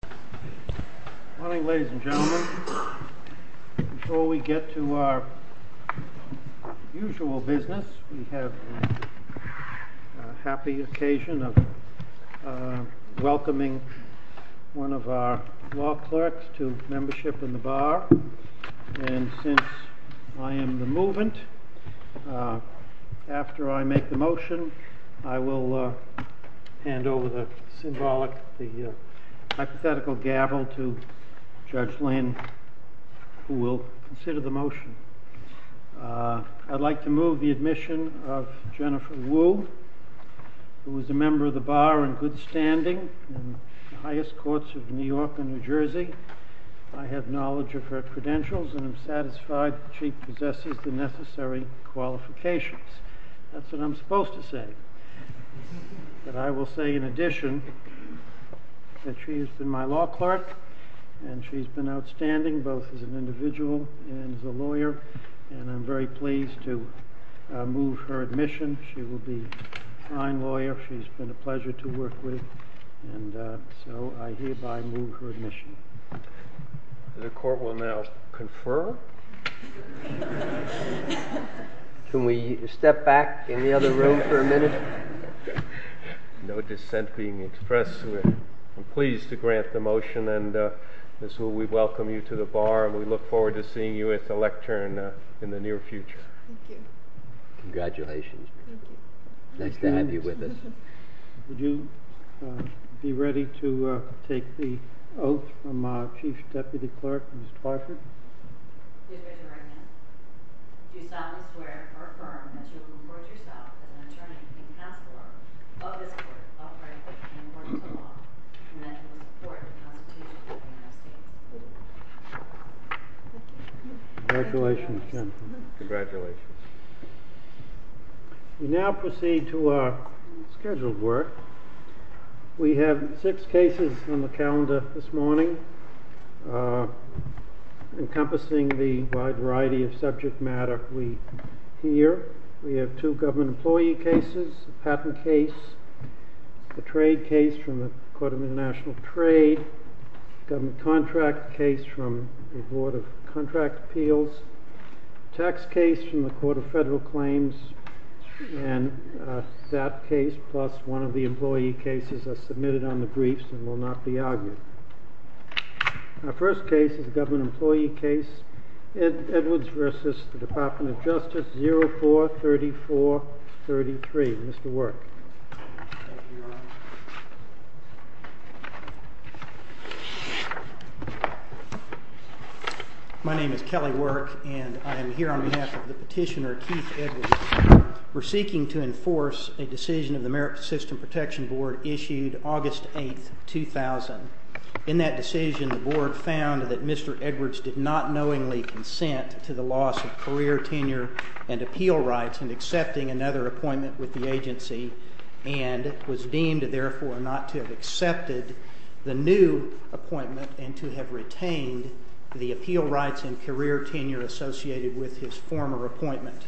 Good morning, ladies and gentlemen. Before we get to our usual business, we have a happy occasion of welcoming one of our law clerks to membership in the Bar. And since I am the movement, after I make the motion, I will hand over the symbolic, the hypothetical gavel to Judge Lynn, who will consider the motion. I'd like to move the admission of Jennifer Wu, who is a member of the Bar in good standing in the highest courts of New York and New Jersey. I have knowledge of her credentials and am satisfied that she possesses the necessary qualifications. That's what I'm supposed to say. But I will say, in addition, that she has been my law clerk, and she's been outstanding, both as an individual and as a lawyer, and I'm very pleased to move her admission. She will be a fine lawyer. She's been a pleasure to work with, and so I hereby move her admission. The court will now confer. Can we step back in the other room for a minute? No dissent being expressed. I'm pleased to grant the motion, and we welcome you to the Bar, and we look forward to seeing you at the lectern in the near future. Thank you. Congratulations. Thank you. Nice to have you with us. Would you be ready to take the oath from our Chief Deputy Clerk, Ms. Clarkett? Congratulations, Jennifer. Congratulations. We now proceed to our scheduled work. We have six cases on the calendar this morning, encompassing the wide variety of subject matter we hear. We have two government employee cases, a patent case, a trade case from the Court of International Trade, a government contract case from the Board of Contract Appeals, a tax case from the Court of Federal Claims, and a SAP case plus one of the employee cases are submitted on the briefs and will not be argued. Our first case is a government employee case, Edwards v. Department of Justice 043433. Mr. Work. Thank you, Your Honor. My name is Kelly Work, and I am here on behalf of the petitioner, Keith Edwards. We're seeking to enforce a decision of the Merit System Protection Board issued August 8, 2000. In that decision, the Board found that Mr. Edwards did not knowingly consent to the loss of career, tenure, and appeal rights in accepting another appointment with the agency and was deemed, therefore, not to have accepted the new appointment and to have retained the appeal rights and career tenure associated with his former appointment.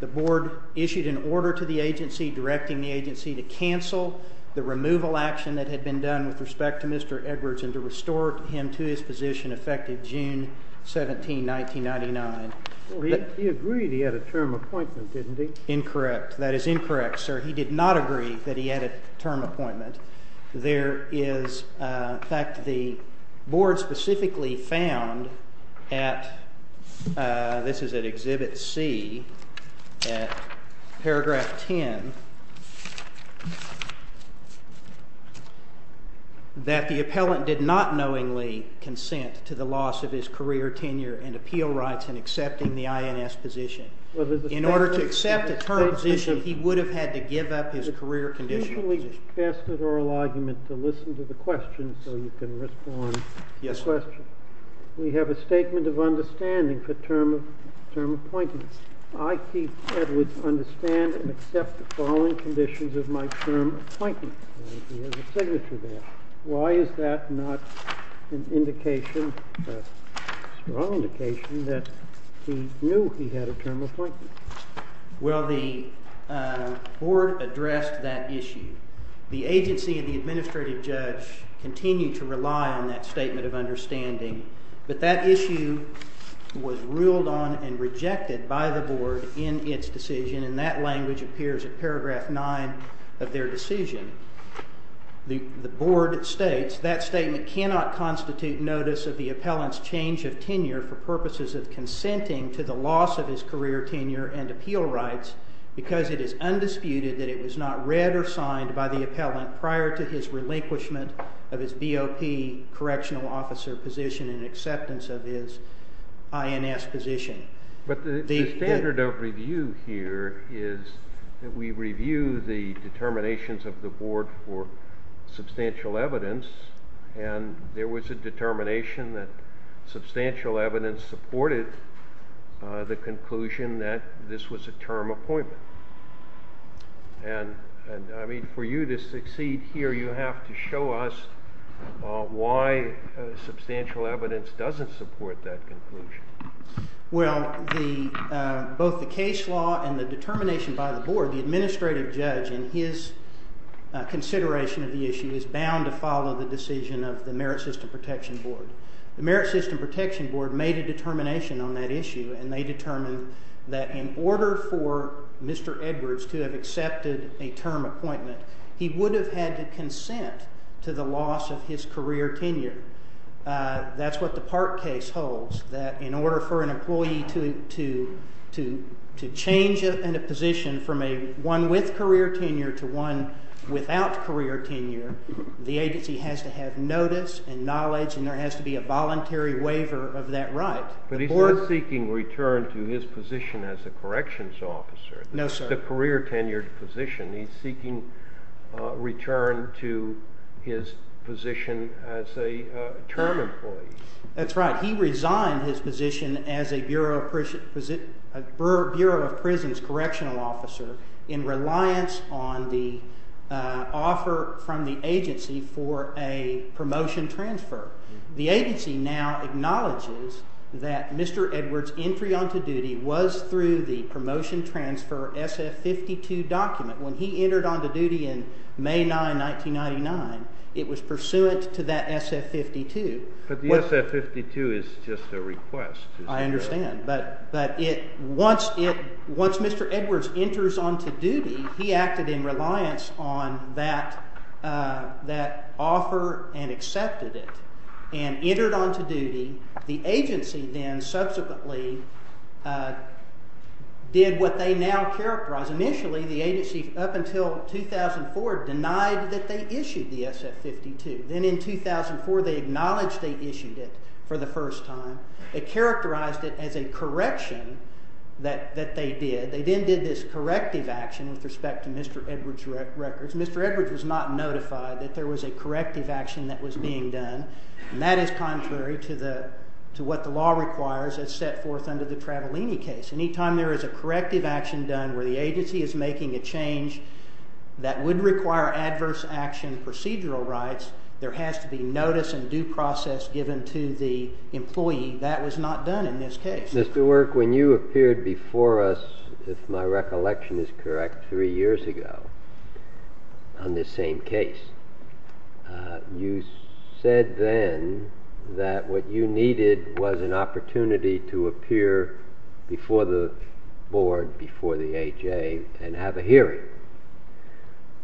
The Board issued an order to the agency directing the agency to cancel the removal action that had been done with respect to Mr. Edwards and to restore him to his position effective June 17, 1999. He agreed he had a term appointment, didn't he? Incorrect. That is incorrect, sir. He did not agree that he had a term appointment. In fact, the Board specifically found at, this is at Exhibit C, at paragraph 10, that the appellant did not knowingly consent to the loss of his career, tenure, and appeal rights in accepting the INS position. In order to accept a term position, he would have had to give up his career condition. Can we ask an oral argument to listen to the questions so you can respond to the questions? Yes, Your Honor. We have a statement of understanding for term appointment. I, Keith Edwards, understand and accept the following conditions of my term appointment. He has a signature there. Why is that not an indication, a strong indication, that he knew he had a term appointment? Well, the Board addressed that issue. The agency and the administrative judge continued to rely on that statement of understanding. But that issue was ruled on and rejected by the Board in its decision, and that language appears at paragraph 9 of their decision. The Board states, that statement cannot constitute notice of the appellant's change of tenure for purposes of consenting to the loss of his career, tenure, and appeal rights because it is undisputed that it was not read or signed by the appellant prior to his relinquishment of his BOP correctional officer position in acceptance of his INS position. But the standard of review here is that we review the determinations of the Board for substantial evidence, and there was a determination that substantial evidence supported the conclusion that this was a term appointment. And, I mean, for you to succeed here, you have to show us why substantial evidence doesn't support that conclusion. Well, both the case law and the determination by the Board, the administrative judge in his consideration of the issue is bound to follow the decision of the Merit System Protection Board. The Merit System Protection Board made a determination on that issue, and they determined that in order for Mr. Edwards to have accepted a term appointment, he would have had to consent to the loss of his career, tenure. That's what the Park case holds, that in order for an employee to change in a position from one with career tenure to one without career tenure, the agency has to have notice and knowledge, and there has to be a voluntary waiver of that right. But he's not seeking return to his position as a corrections officer. No, sir. He has a career tenure position. He's seeking return to his position as a term employee. That's right. He resigned his position as a Bureau of Prisons correctional officer in reliance on the offer from the agency for a promotion transfer. The agency now acknowledges that Mr. Edwards' entry onto duty was through the promotion transfer SF-52 document. When he entered onto duty in May 9, 1999, it was pursuant to that SF-52. But the SF-52 is just a request. I understand. But once Mr. Edwards enters onto duty, he acted in reliance on that offer and accepted it and entered onto duty. The agency then subsequently did what they now characterize. Initially, the agency, up until 2004, denied that they issued the SF-52. Then in 2004, they acknowledged they issued it for the first time. They characterized it as a correction that they did. They then did this corrective action with respect to Mr. Edwards' records. Mr. Edwards was not notified that there was a corrective action that was being done. And that is contrary to what the law requires as set forth under the Travolini case. Anytime there is a corrective action done where the agency is making a change that would require adverse action procedural rights, there has to be notice and due process given to the employee. That was not done in this case. Mr. Work, when you appeared before us, if my recollection is correct, three years ago on this same case, you said then that what you needed was an opportunity to appear before the board, before the AHA, and have a hearing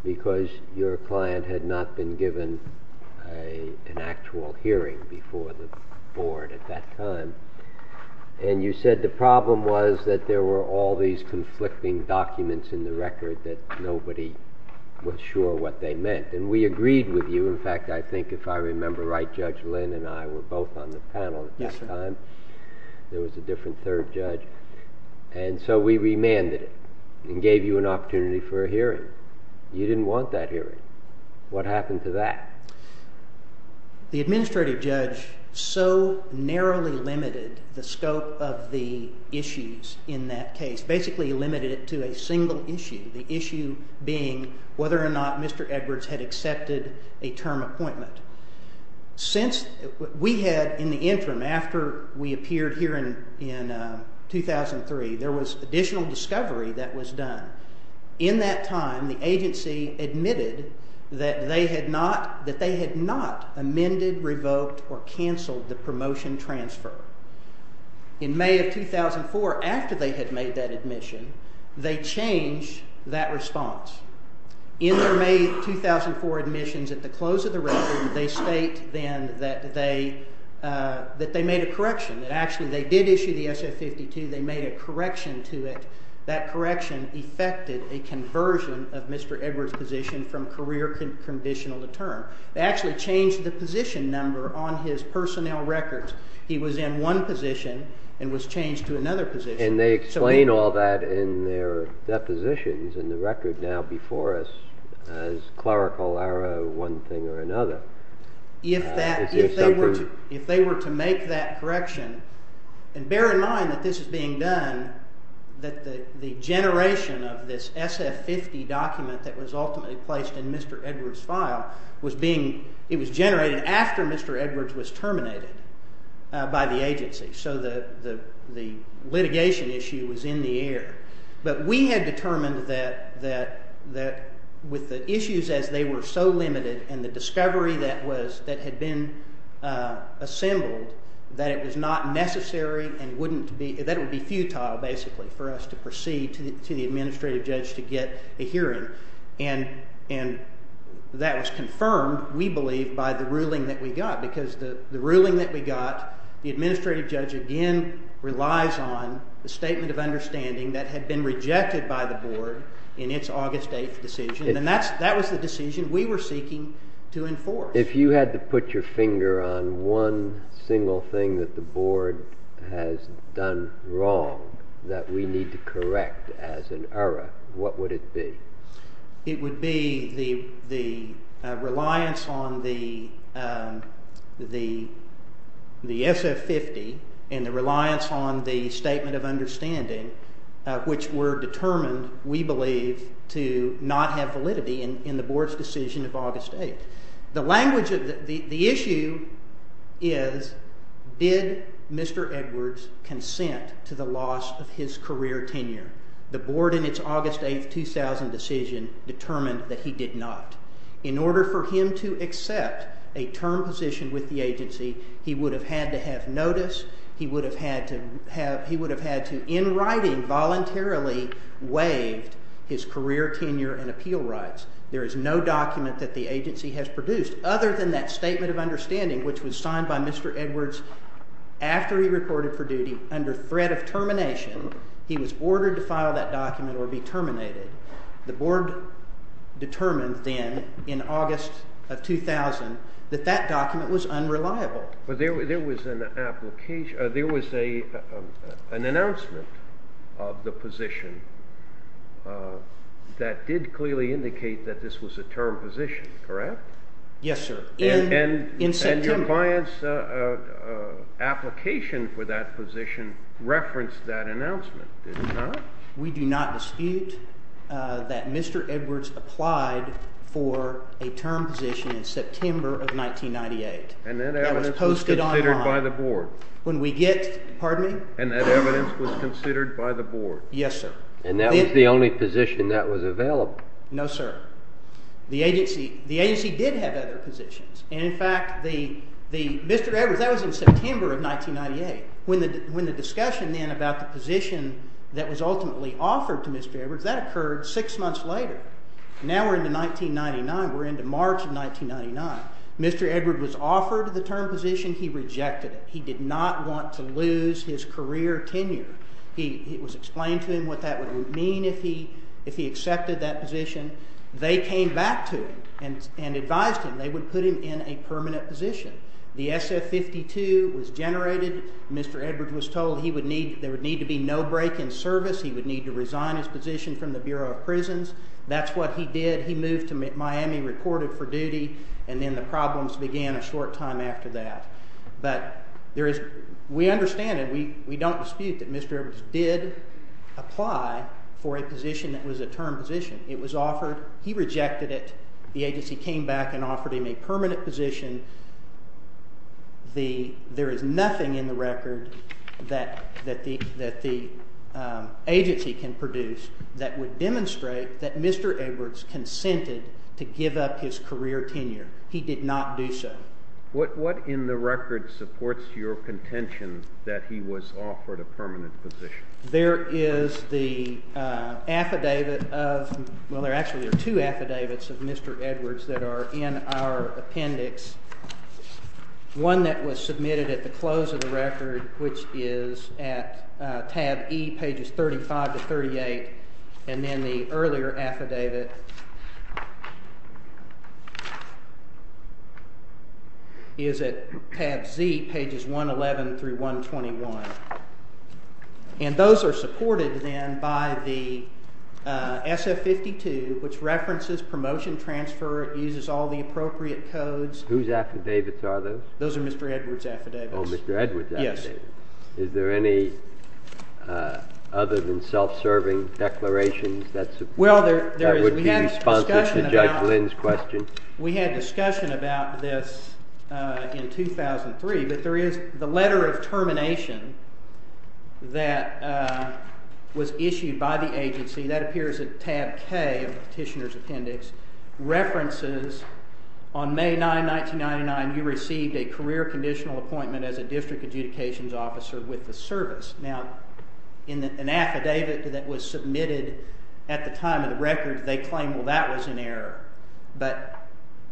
because your client had not been given an actual hearing before the board at that time. And you said the problem was that there were all these conflicting documents in the record that nobody was sure what they meant. And we agreed with you. In fact, I think if I remember right, Judge Lynn and I were both on the panel at this time. There was a different third judge. And so we remanded it and gave you an opportunity for a hearing. You didn't want that hearing. What happened to that? The administrative judge so narrowly limited the scope of the issues in that case, basically limited it to a single issue, the issue being whether or not Mr. Edwards had accepted a term appointment. Since we had, in the interim, after we appeared here in 2003, there was additional discovery that was done. In that time, the agency admitted that they had not amended, revoked, or canceled the promotion transfer. In May of 2004, after they had made that admission, they changed that response. In their May 2004 admissions, at the close of the record, they state then that they made a correction. Actually, they did issue the SF-52. They made a correction to it. That correction effected a conversion of Mr. Edwards' position from career conditional to term. They actually changed the position number on his personnel records. He was in one position and was changed to another position. They explain all that in their depositions in the record now before us as clerical error, one thing or another. If they were to make that correction, and bear in mind that this is being done, that the generation of this SF-50 document that was ultimately placed in Mr. Edwards' file, it was generated after Mr. Edwards was terminated by the agency. So the litigation issue was in the air. But we had determined that with the issues, as they were so limited, and the discovery that had been assembled, that it was not necessary and that it would be futile, basically, for us to proceed to the administrative judge to get a hearing. That was confirmed, we believe, by the ruling that we got. Because the ruling that we got, the administrative judge, again, relies on the statement of understanding that had been rejected by the board in its August 8 decision. And that was the decision we were seeking to enforce. If you had to put your finger on one single thing that the board has done wrong that we need to correct as an error, what would it be? It would be the reliance on the SF-50 and the reliance on the statement of understanding, which were determined, we believe, to not have validity in the board's decision of August 8. The issue is, did Mr. Edwards consent to the loss of his career tenure? The board, in its August 8, 2000 decision, determined that he did not. In order for him to accept a term position with the agency, he would have had to have notice. He would have had to, in writing, voluntarily waive his career tenure and appeal rights. There is no document that the agency has produced other than that statement of understanding, which was signed by Mr. Edwards after he reported for duty under threat of termination. He was ordered to file that document or be terminated. The board determined then, in August of 2000, that that document was unreliable. But there was an announcement of the position that did clearly indicate that this was a term position, correct? Yes, sir. And your reliance application for that position referenced that announcement, did it not? We do not dispute that Mr. Edwards applied for a term position in September of 1998. And that evidence was considered by the board? When we get, pardon me? And that evidence was considered by the board? Yes, sir. And that was the only position that was available? No, sir. The agency did have other positions. And, in fact, Mr. Edwards, that was in September of 1998. When the discussion then about the position that was ultimately offered to Mr. Edwards, that occurred six months later. Now we're into 1999. We're into March of 1999. Mr. Edwards was offered the term position. He rejected it. He did not want to lose his career tenure. It was explained to him what that would mean if he accepted that position. They came back to him and advised him they would put him in a permanent position. The SF-52 was generated. Mr. Edwards was told there would need to be no break in service. He would need to resign his position from the Bureau of Prisons. That's what he did. He moved to Miami, recorded for duty, and then the problems began a short time after that. But we understand and we don't dispute that Mr. Edwards did apply for a position that was a term position. It was offered. He rejected it. The agency came back and offered him a permanent position. There is nothing in the record that the agency can produce that would demonstrate that Mr. Edwards consented to give up his career tenure. He did not do so. What in the record supports your contention that he was offered a permanent position? There is the affidavit of, well, there actually are two affidavits of Mr. Edwards that are in our appendix. One that was submitted at the close of the record, which is at tab E, pages 35 to 38, and then the earlier affidavit is at tab Z, pages 111 through 121. And those are supported then by the SF-52, which references promotion transfer. It uses all the appropriate codes. Whose affidavits are those? Those are Mr. Edwards' affidavits. Oh, Mr. Edwards' affidavits. Yes. Is there any other than self-serving declarations that would be responsive to Judge Lynn's question? We had discussion about this in 2003, but there is the letter of termination that was issued by the agency. That appears at tab K of the petitioner's appendix. References, on May 9, 1999, you received a career conditional appointment as a district adjudications officer with the service. Now, in an affidavit that was submitted at the time of the record, they claim, well, that was an error. But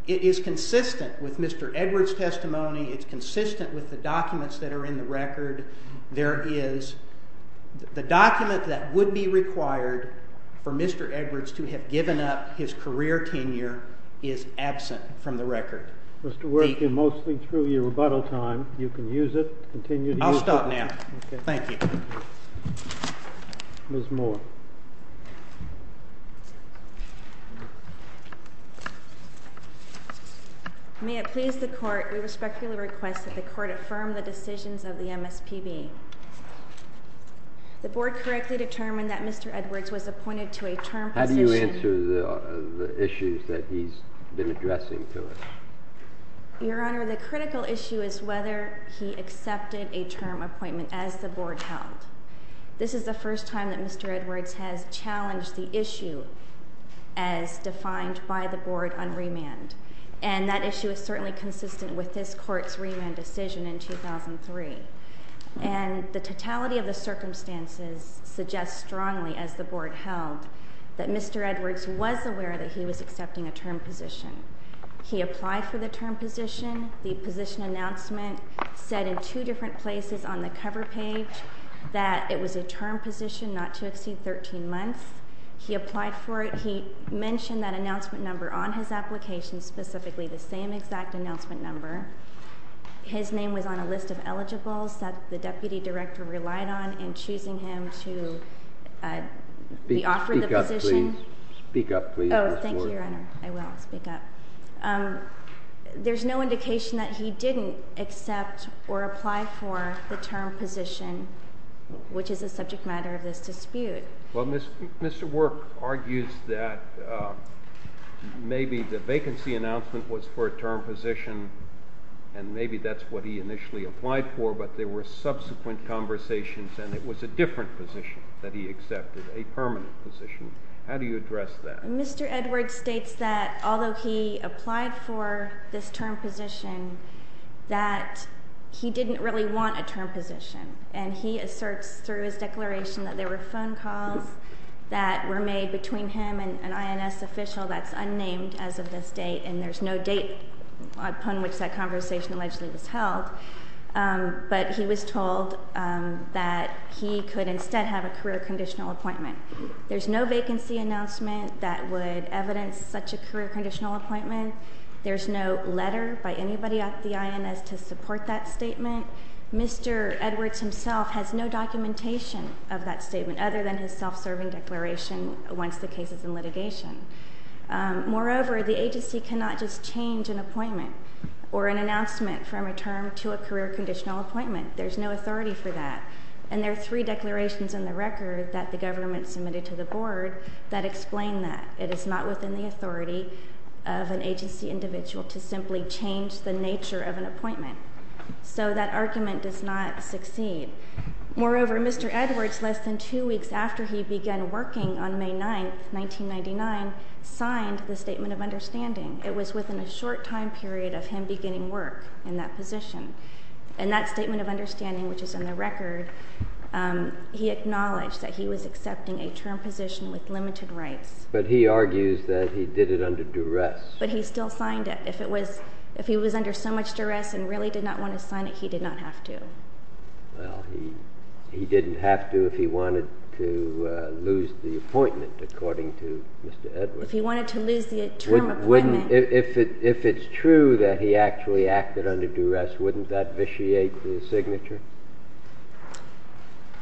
it is consistent with Mr. Edwards' testimony. It's consistent with the documents that are in the record. There is the document that would be required for Mr. Edwards to have given up his career tenure is absent from the record. Mr. Worth, you're mostly through your rebuttal time. You can use it. Continue to use it. I'll stop now. Thank you. Ms. Moore. May it please the Court, we respectfully request that the Court affirm the decisions of the MSPB. The Board correctly determined that Mr. Edwards was appointed to a term position. How do you answer the issues that he's been addressing to us? Your Honor, the critical issue is whether he accepted a term appointment as the Board held. This is the first time that Mr. Edwards has challenged the issue as defined by the Board on remand. And that issue is certainly consistent with this Court's remand decision in 2003. And the totality of the circumstances suggests strongly, as the Board held, that Mr. Edwards was aware that he was accepting a term position. He applied for the term position. The position announcement said in two different places on the cover page that it was a term position not to exceed 13 months. He applied for it. He mentioned that announcement number on his application, specifically the same exact announcement number. His name was on a list of eligibles that the Deputy Director relied on in choosing him to be offered the position. Speak up, please. Speak up, please, Ms. Moore. Oh, thank you, Your Honor. I will speak up. There's no indication that he didn't accept or apply for the term position, which is a subject matter of this dispute. Well, Mr. Work argues that maybe the vacancy announcement was for a term position and maybe that's what he initially applied for, but there were subsequent conversations and it was a different position that he accepted, a permanent position. How do you address that? Mr. Edwards states that although he applied for this term position, that he didn't really want a term position, and he asserts through his declaration that there were phone calls that were made between him and an INS official that's unnamed as of this date, and there's no date upon which that conversation allegedly was held, but he was told that he could instead have a career conditional appointment. There's no vacancy announcement that would evidence such a career conditional appointment. There's no letter by anybody at the INS to support that statement. Mr. Edwards himself has no documentation of that statement other than his self-serving declaration once the case is in litigation. Moreover, the agency cannot just change an appointment or an announcement from a term to a career conditional appointment. There's no authority for that. And there are three declarations in the record that the government submitted to the board that explain that. It is not within the authority of an agency individual to simply change the nature of an appointment. So that argument does not succeed. Moreover, Mr. Edwards, less than two weeks after he began working on May 9, 1999, signed the Statement of Understanding. It was within a short time period of him beginning work in that position. And that Statement of Understanding, which is in the record, he acknowledged that he was accepting a term position with limited rights. But he argues that he did it under duress. But he still signed it. If he was under so much duress and really did not want to sign it, he did not have to. Well, he didn't have to if he wanted to lose the appointment, according to Mr. Edwards. If he wanted to lose the term appointment. If it's true that he actually acted under duress, wouldn't that vitiate the signature?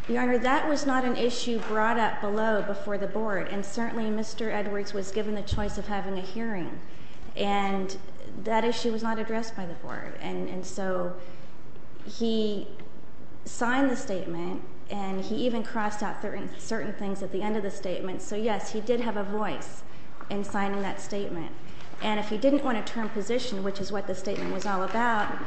Your Honor, that was not an issue brought up below before the board. And certainly, Mr. Edwards was given the choice of having a hearing. And that issue was not addressed by the board. And so he signed the statement. And he even crossed out certain things at the end of the statement. So, yes, he did have a voice in signing that statement. And if he didn't want a term position, which is what the statement was all about,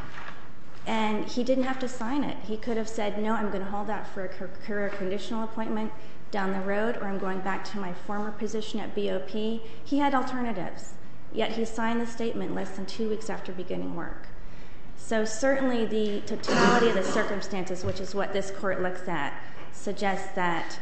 and he didn't have to sign it. He could have said, no, I'm going to hold out for a career conditional appointment down the road or I'm going back to my former position at BOP. He had alternatives. Yet he signed the statement less than two weeks after beginning work. So certainly, the totality of the circumstances, which is what this court looks at, suggests that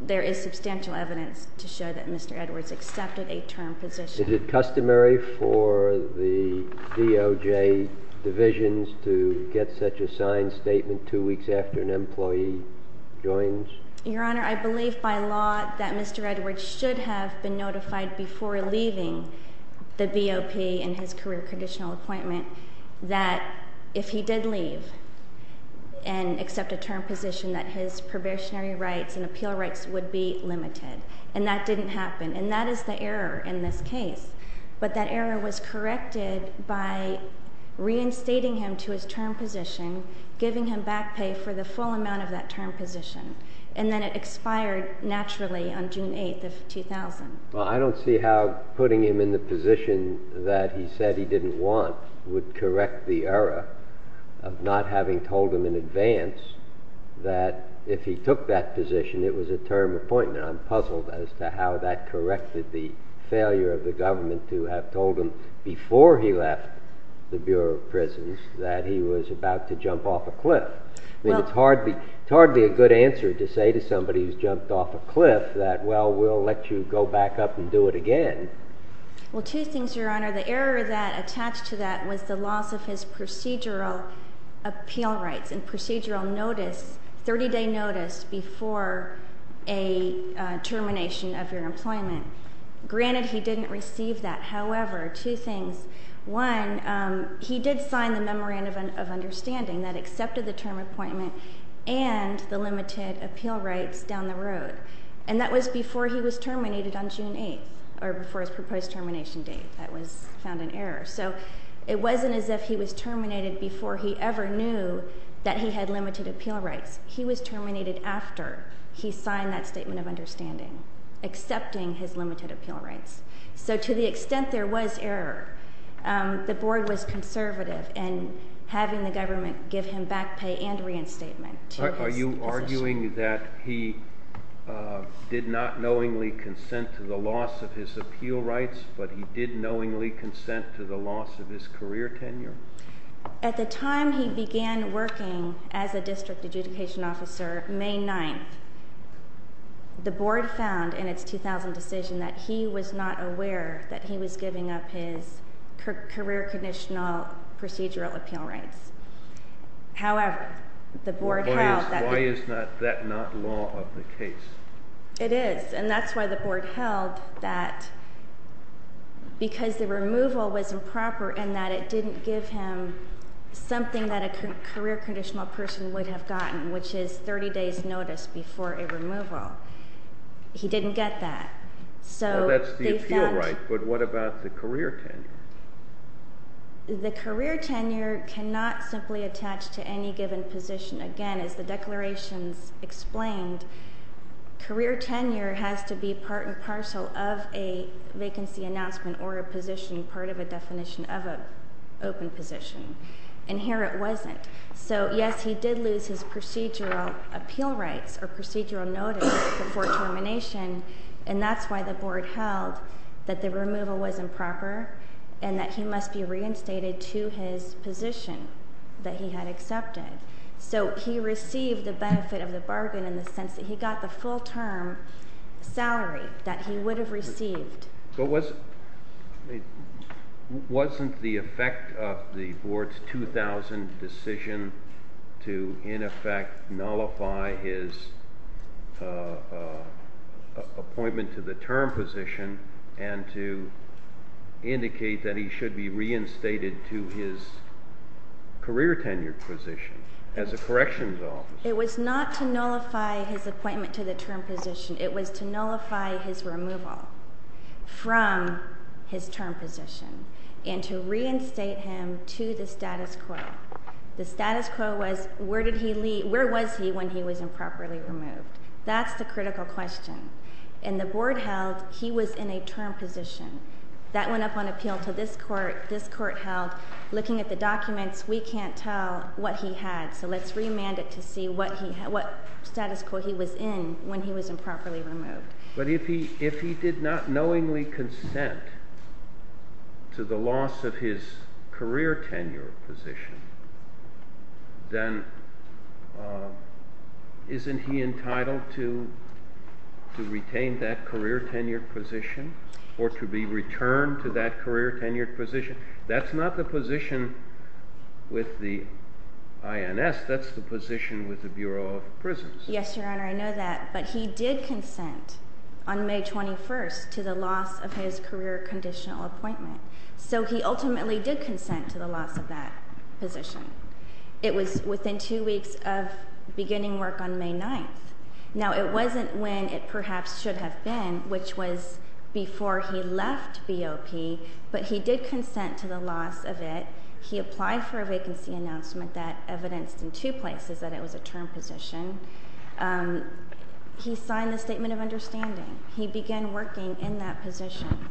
there is substantial evidence to show that Mr. Edwards accepted a term position. Is it customary for the DOJ divisions to get such a signed statement two weeks after an employee joins? Your Honor, I believe by law that Mr. Edwards should have been notified before leaving the BOP in his career conditional appointment that if he did leave and accept a term position, that his probationary rights and appeal rights would be limited. And that didn't happen. And that is the error in this case. But that error was corrected by reinstating him to his term position, giving him back pay for the full amount of that term position. And then it expired naturally on June 8 of 2000. Well, I don't see how putting him in the position that he said he didn't want would correct the error of not having told him in advance that if he took that position, it was a term appointment. I'm puzzled as to how that corrected the failure of the government to have told him before he left the Bureau of Prisons that he was about to jump off a cliff. I mean, it's hardly a good answer to say to somebody who's jumped off a cliff that, well, we'll let you go back up and do it again. Well, two things, Your Honor. The error that attached to that was the loss of his procedural appeal rights and procedural notice, 30-day notice before a termination of your employment. Granted, he didn't receive that. However, two things. One, he did sign the Memorandum of Understanding that accepted the term appointment and the limited appeal rights down the road. And that was before he was terminated on June 8, or before his proposed termination date. That was found an error. So it wasn't as if he was terminated before he ever knew that he had limited appeal rights. He was terminated after he signed that Statement of Understanding, accepting his limited appeal rights. So to the extent there was error, the Board was conservative in having the government give him back pay and reinstatement to his position. Are you arguing that he did not knowingly consent to the loss of his appeal rights, but he did knowingly consent to the loss of his career tenure? At the time he began working as a district adjudication officer, May 9, the Board found in its 2000 decision that he was not aware that he was giving up his career conditional procedural appeal rights. However, the Board held that... Why is that not law of the case? It is, and that's why the Board held that because the removal was improper and that it didn't give him something that a career conditional person would have gotten, which is 30 days notice before a removal. He didn't get that. Well, that's the appeal right, but what about the career tenure? The career tenure cannot simply attach to any given position. Again, as the declarations explained, career tenure has to be part and parcel of a vacancy announcement or a position, part of a definition of an open position. And here it wasn't. So, yes, he did lose his procedural appeal rights or procedural notice before termination, and that's why the Board held that the removal was improper and that he must be reinstated to his position that he had accepted. So he received the benefit of the bargain in the sense that he got the full-term salary that he would have received. But wasn't the effect of the Board's 2000 decision to, in effect, nullify his appointment to the term position and to indicate that he should be reinstated to his career tenure position as a corrections officer? It was not to nullify his appointment to the term position. It was to nullify his removal from his term position and to reinstate him to the status quo. The status quo was where did he leave, where was he when he was improperly removed? That's the critical question. And the Board held he was in a term position. That went up on appeal to this Court. This Court held, looking at the documents, we can't tell what he had. So let's remand it to see what status quo he was in when he was improperly removed. But if he did not knowingly consent to the loss of his career tenure position, then isn't he entitled to retain that career tenure position or to be returned to that career tenure position? That's not the position with the INS. That's the position with the Bureau of Prisons. Yes, Your Honor, I know that. But he did consent on May 21st to the loss of his career conditional appointment. So he ultimately did consent to the loss of that position. It was within two weeks of beginning work on May 9th. Now, it wasn't when it perhaps should have been, which was before he left BOP, but he did consent to the loss of it. He applied for a vacancy announcement that evidenced in two places that it was a term position. He signed a statement of understanding. He began working in that position.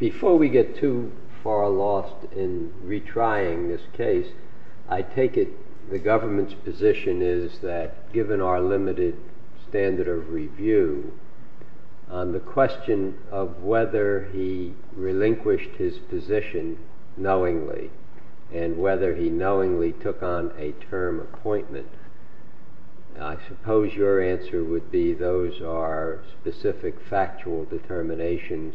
Before we get too far lost in retrying this case, I take it the government's position is that given our limited standard of review, on the question of whether he relinquished his position knowingly and whether he knowingly took on a term appointment, I suppose your answer would be those are specific factual determinations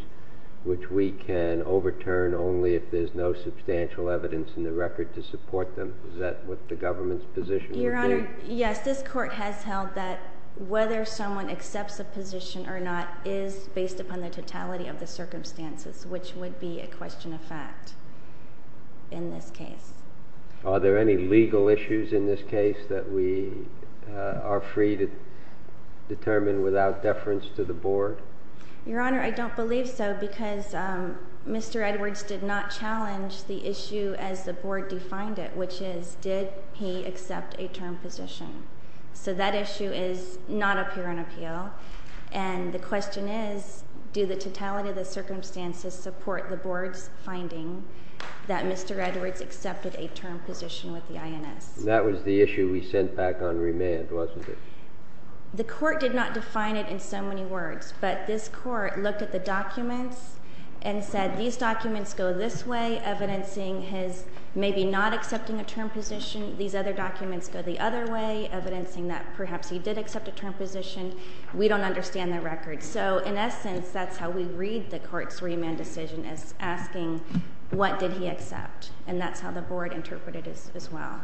which we can overturn only if there's no substantial evidence in the record to support them. Is that what the government's position would be? Your Honor, yes. This court has held that whether someone accepts a position or not is based upon the totality of the circumstances, which would be a question of fact in this case. Are there any legal issues in this case that we are free to determine without deference to the board? Your Honor, I don't believe so because Mr. Edwards did not challenge the issue as the board defined it, which is, did he accept a term position? So that issue is not up here on appeal. And the question is, do the totality of the circumstances support the board's finding that Mr. Edwards accepted a term position with the INS? That was the issue we sent back on remand, wasn't it? The court did not define it in so many words, but this court looked at the documents and said, these documents go this way, evidencing his maybe not accepting a term position. These other documents go the other way, evidencing that perhaps he did accept a term position. We don't understand the record. So in essence, that's how we read the court's remand decision is asking, what did he accept? And that's how the board interpreted it as well.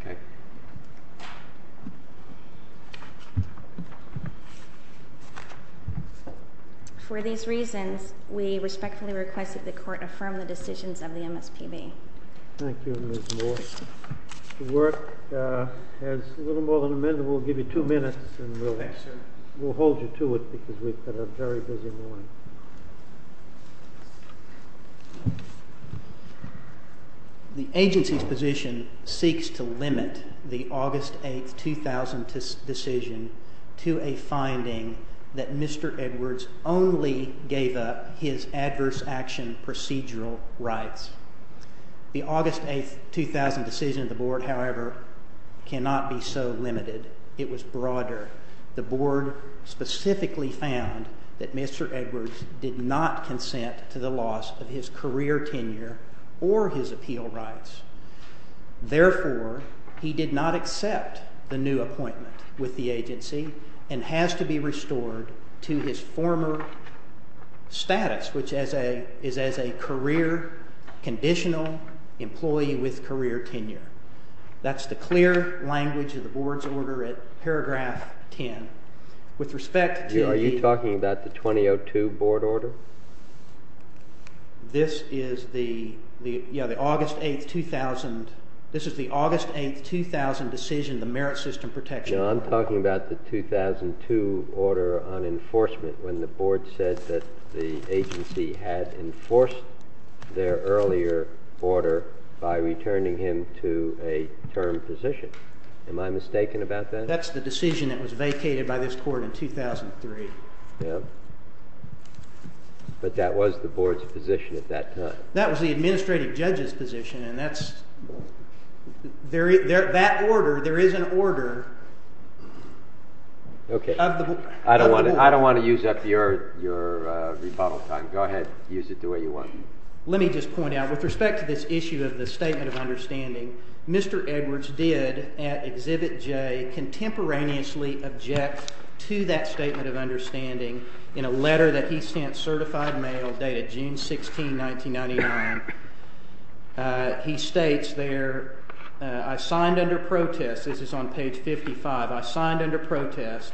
OK. For these reasons, we respectfully request that the court affirm the decisions of the MSPB. Thank you, Ms. Moore. The work has little more than amended. We'll give you two minutes, and we'll hold you to it because we've got a very busy morning. The agency's position seeks to limit the August 8, 2000 decision to a finding that Mr. Edwards only gave up his adverse action procedural rights. The August 8, 2000 decision of the board, however, cannot be so limited. It was broader. The board specifically found that Mr. Edwards did not consent to the loss of his career tenure or his appeal rights. Therefore, he did not accept the new appointment with the agency and has to be restored to his former status, which is as a career conditional employee with career tenure. That's the clear language of the board's order at paragraph 10. With respect to the- Are you talking about the 2002 board order? This is the August 8, 2000 decision, the merit system protection order. No, I'm talking about the 2002 order on enforcement when the board said that the agency had enforced their earlier order by returning him to a term position. Am I mistaken about that? That's the decision that was vacated by this court in 2003. But that was the board's position at that time. That was the administrative judge's position, and there is an order of the board. I don't want to use up your rebuttal time. Go ahead. Use it the way you want. Let me just point out, with respect to this issue of the statement of understanding, Mr. Edwards did at Exhibit J contemporaneously object to that statement of understanding in a letter that he sent certified mail dated June 16, 1999. He states there, I signed under protest. This is on page 55. I signed under protest.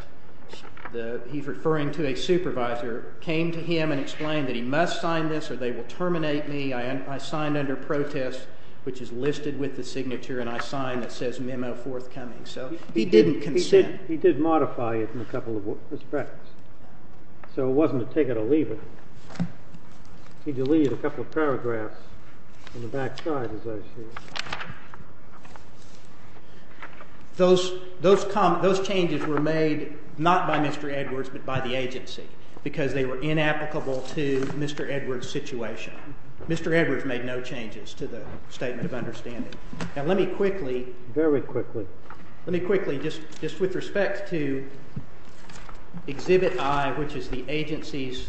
He's referring to a supervisor came to him and explained that he must sign this or they will terminate me. I signed under protest, which is listed with the signature, and I signed that says memo forthcoming. He didn't consent. He did modify it in a couple of respects. So it wasn't a take it or leave it. He deleted a couple of paragraphs on the back side, as I see it. Those changes were made not by Mr. Edwards but by the agency because they were inapplicable to Mr. Edwards' situation. Mr. Edwards made no changes to the statement of understanding. Now, let me quickly. Very quickly. Let me quickly, just with respect to Exhibit I, which is the agency's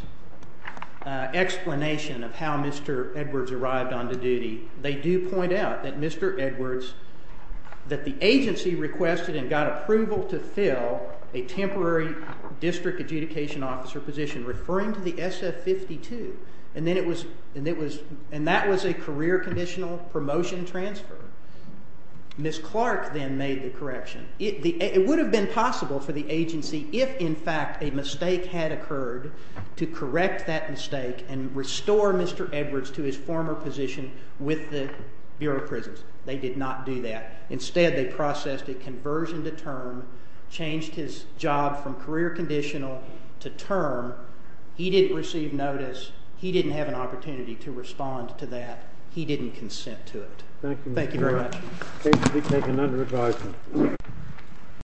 explanation of how Mr. Edwards arrived onto duty, they do point out that Mr. Edwards, that the agency requested and got approval to fill a temporary district adjudication officer position referring to the SF-52. And that was a career conditional promotion transfer. Ms. Clark then made the correction. It would have been possible for the agency if, in fact, a mistake had occurred to correct that mistake and restore Mr. Edwards to his former position with the Bureau of Prisons. They did not do that. Instead, they processed a conversion to term, changed his job from career conditional to term. He didn't receive notice. He didn't have an opportunity to respond to that. He didn't consent to it. Thank you very much. Thank you, Mr. Edwards. Thank you for taking under advisement.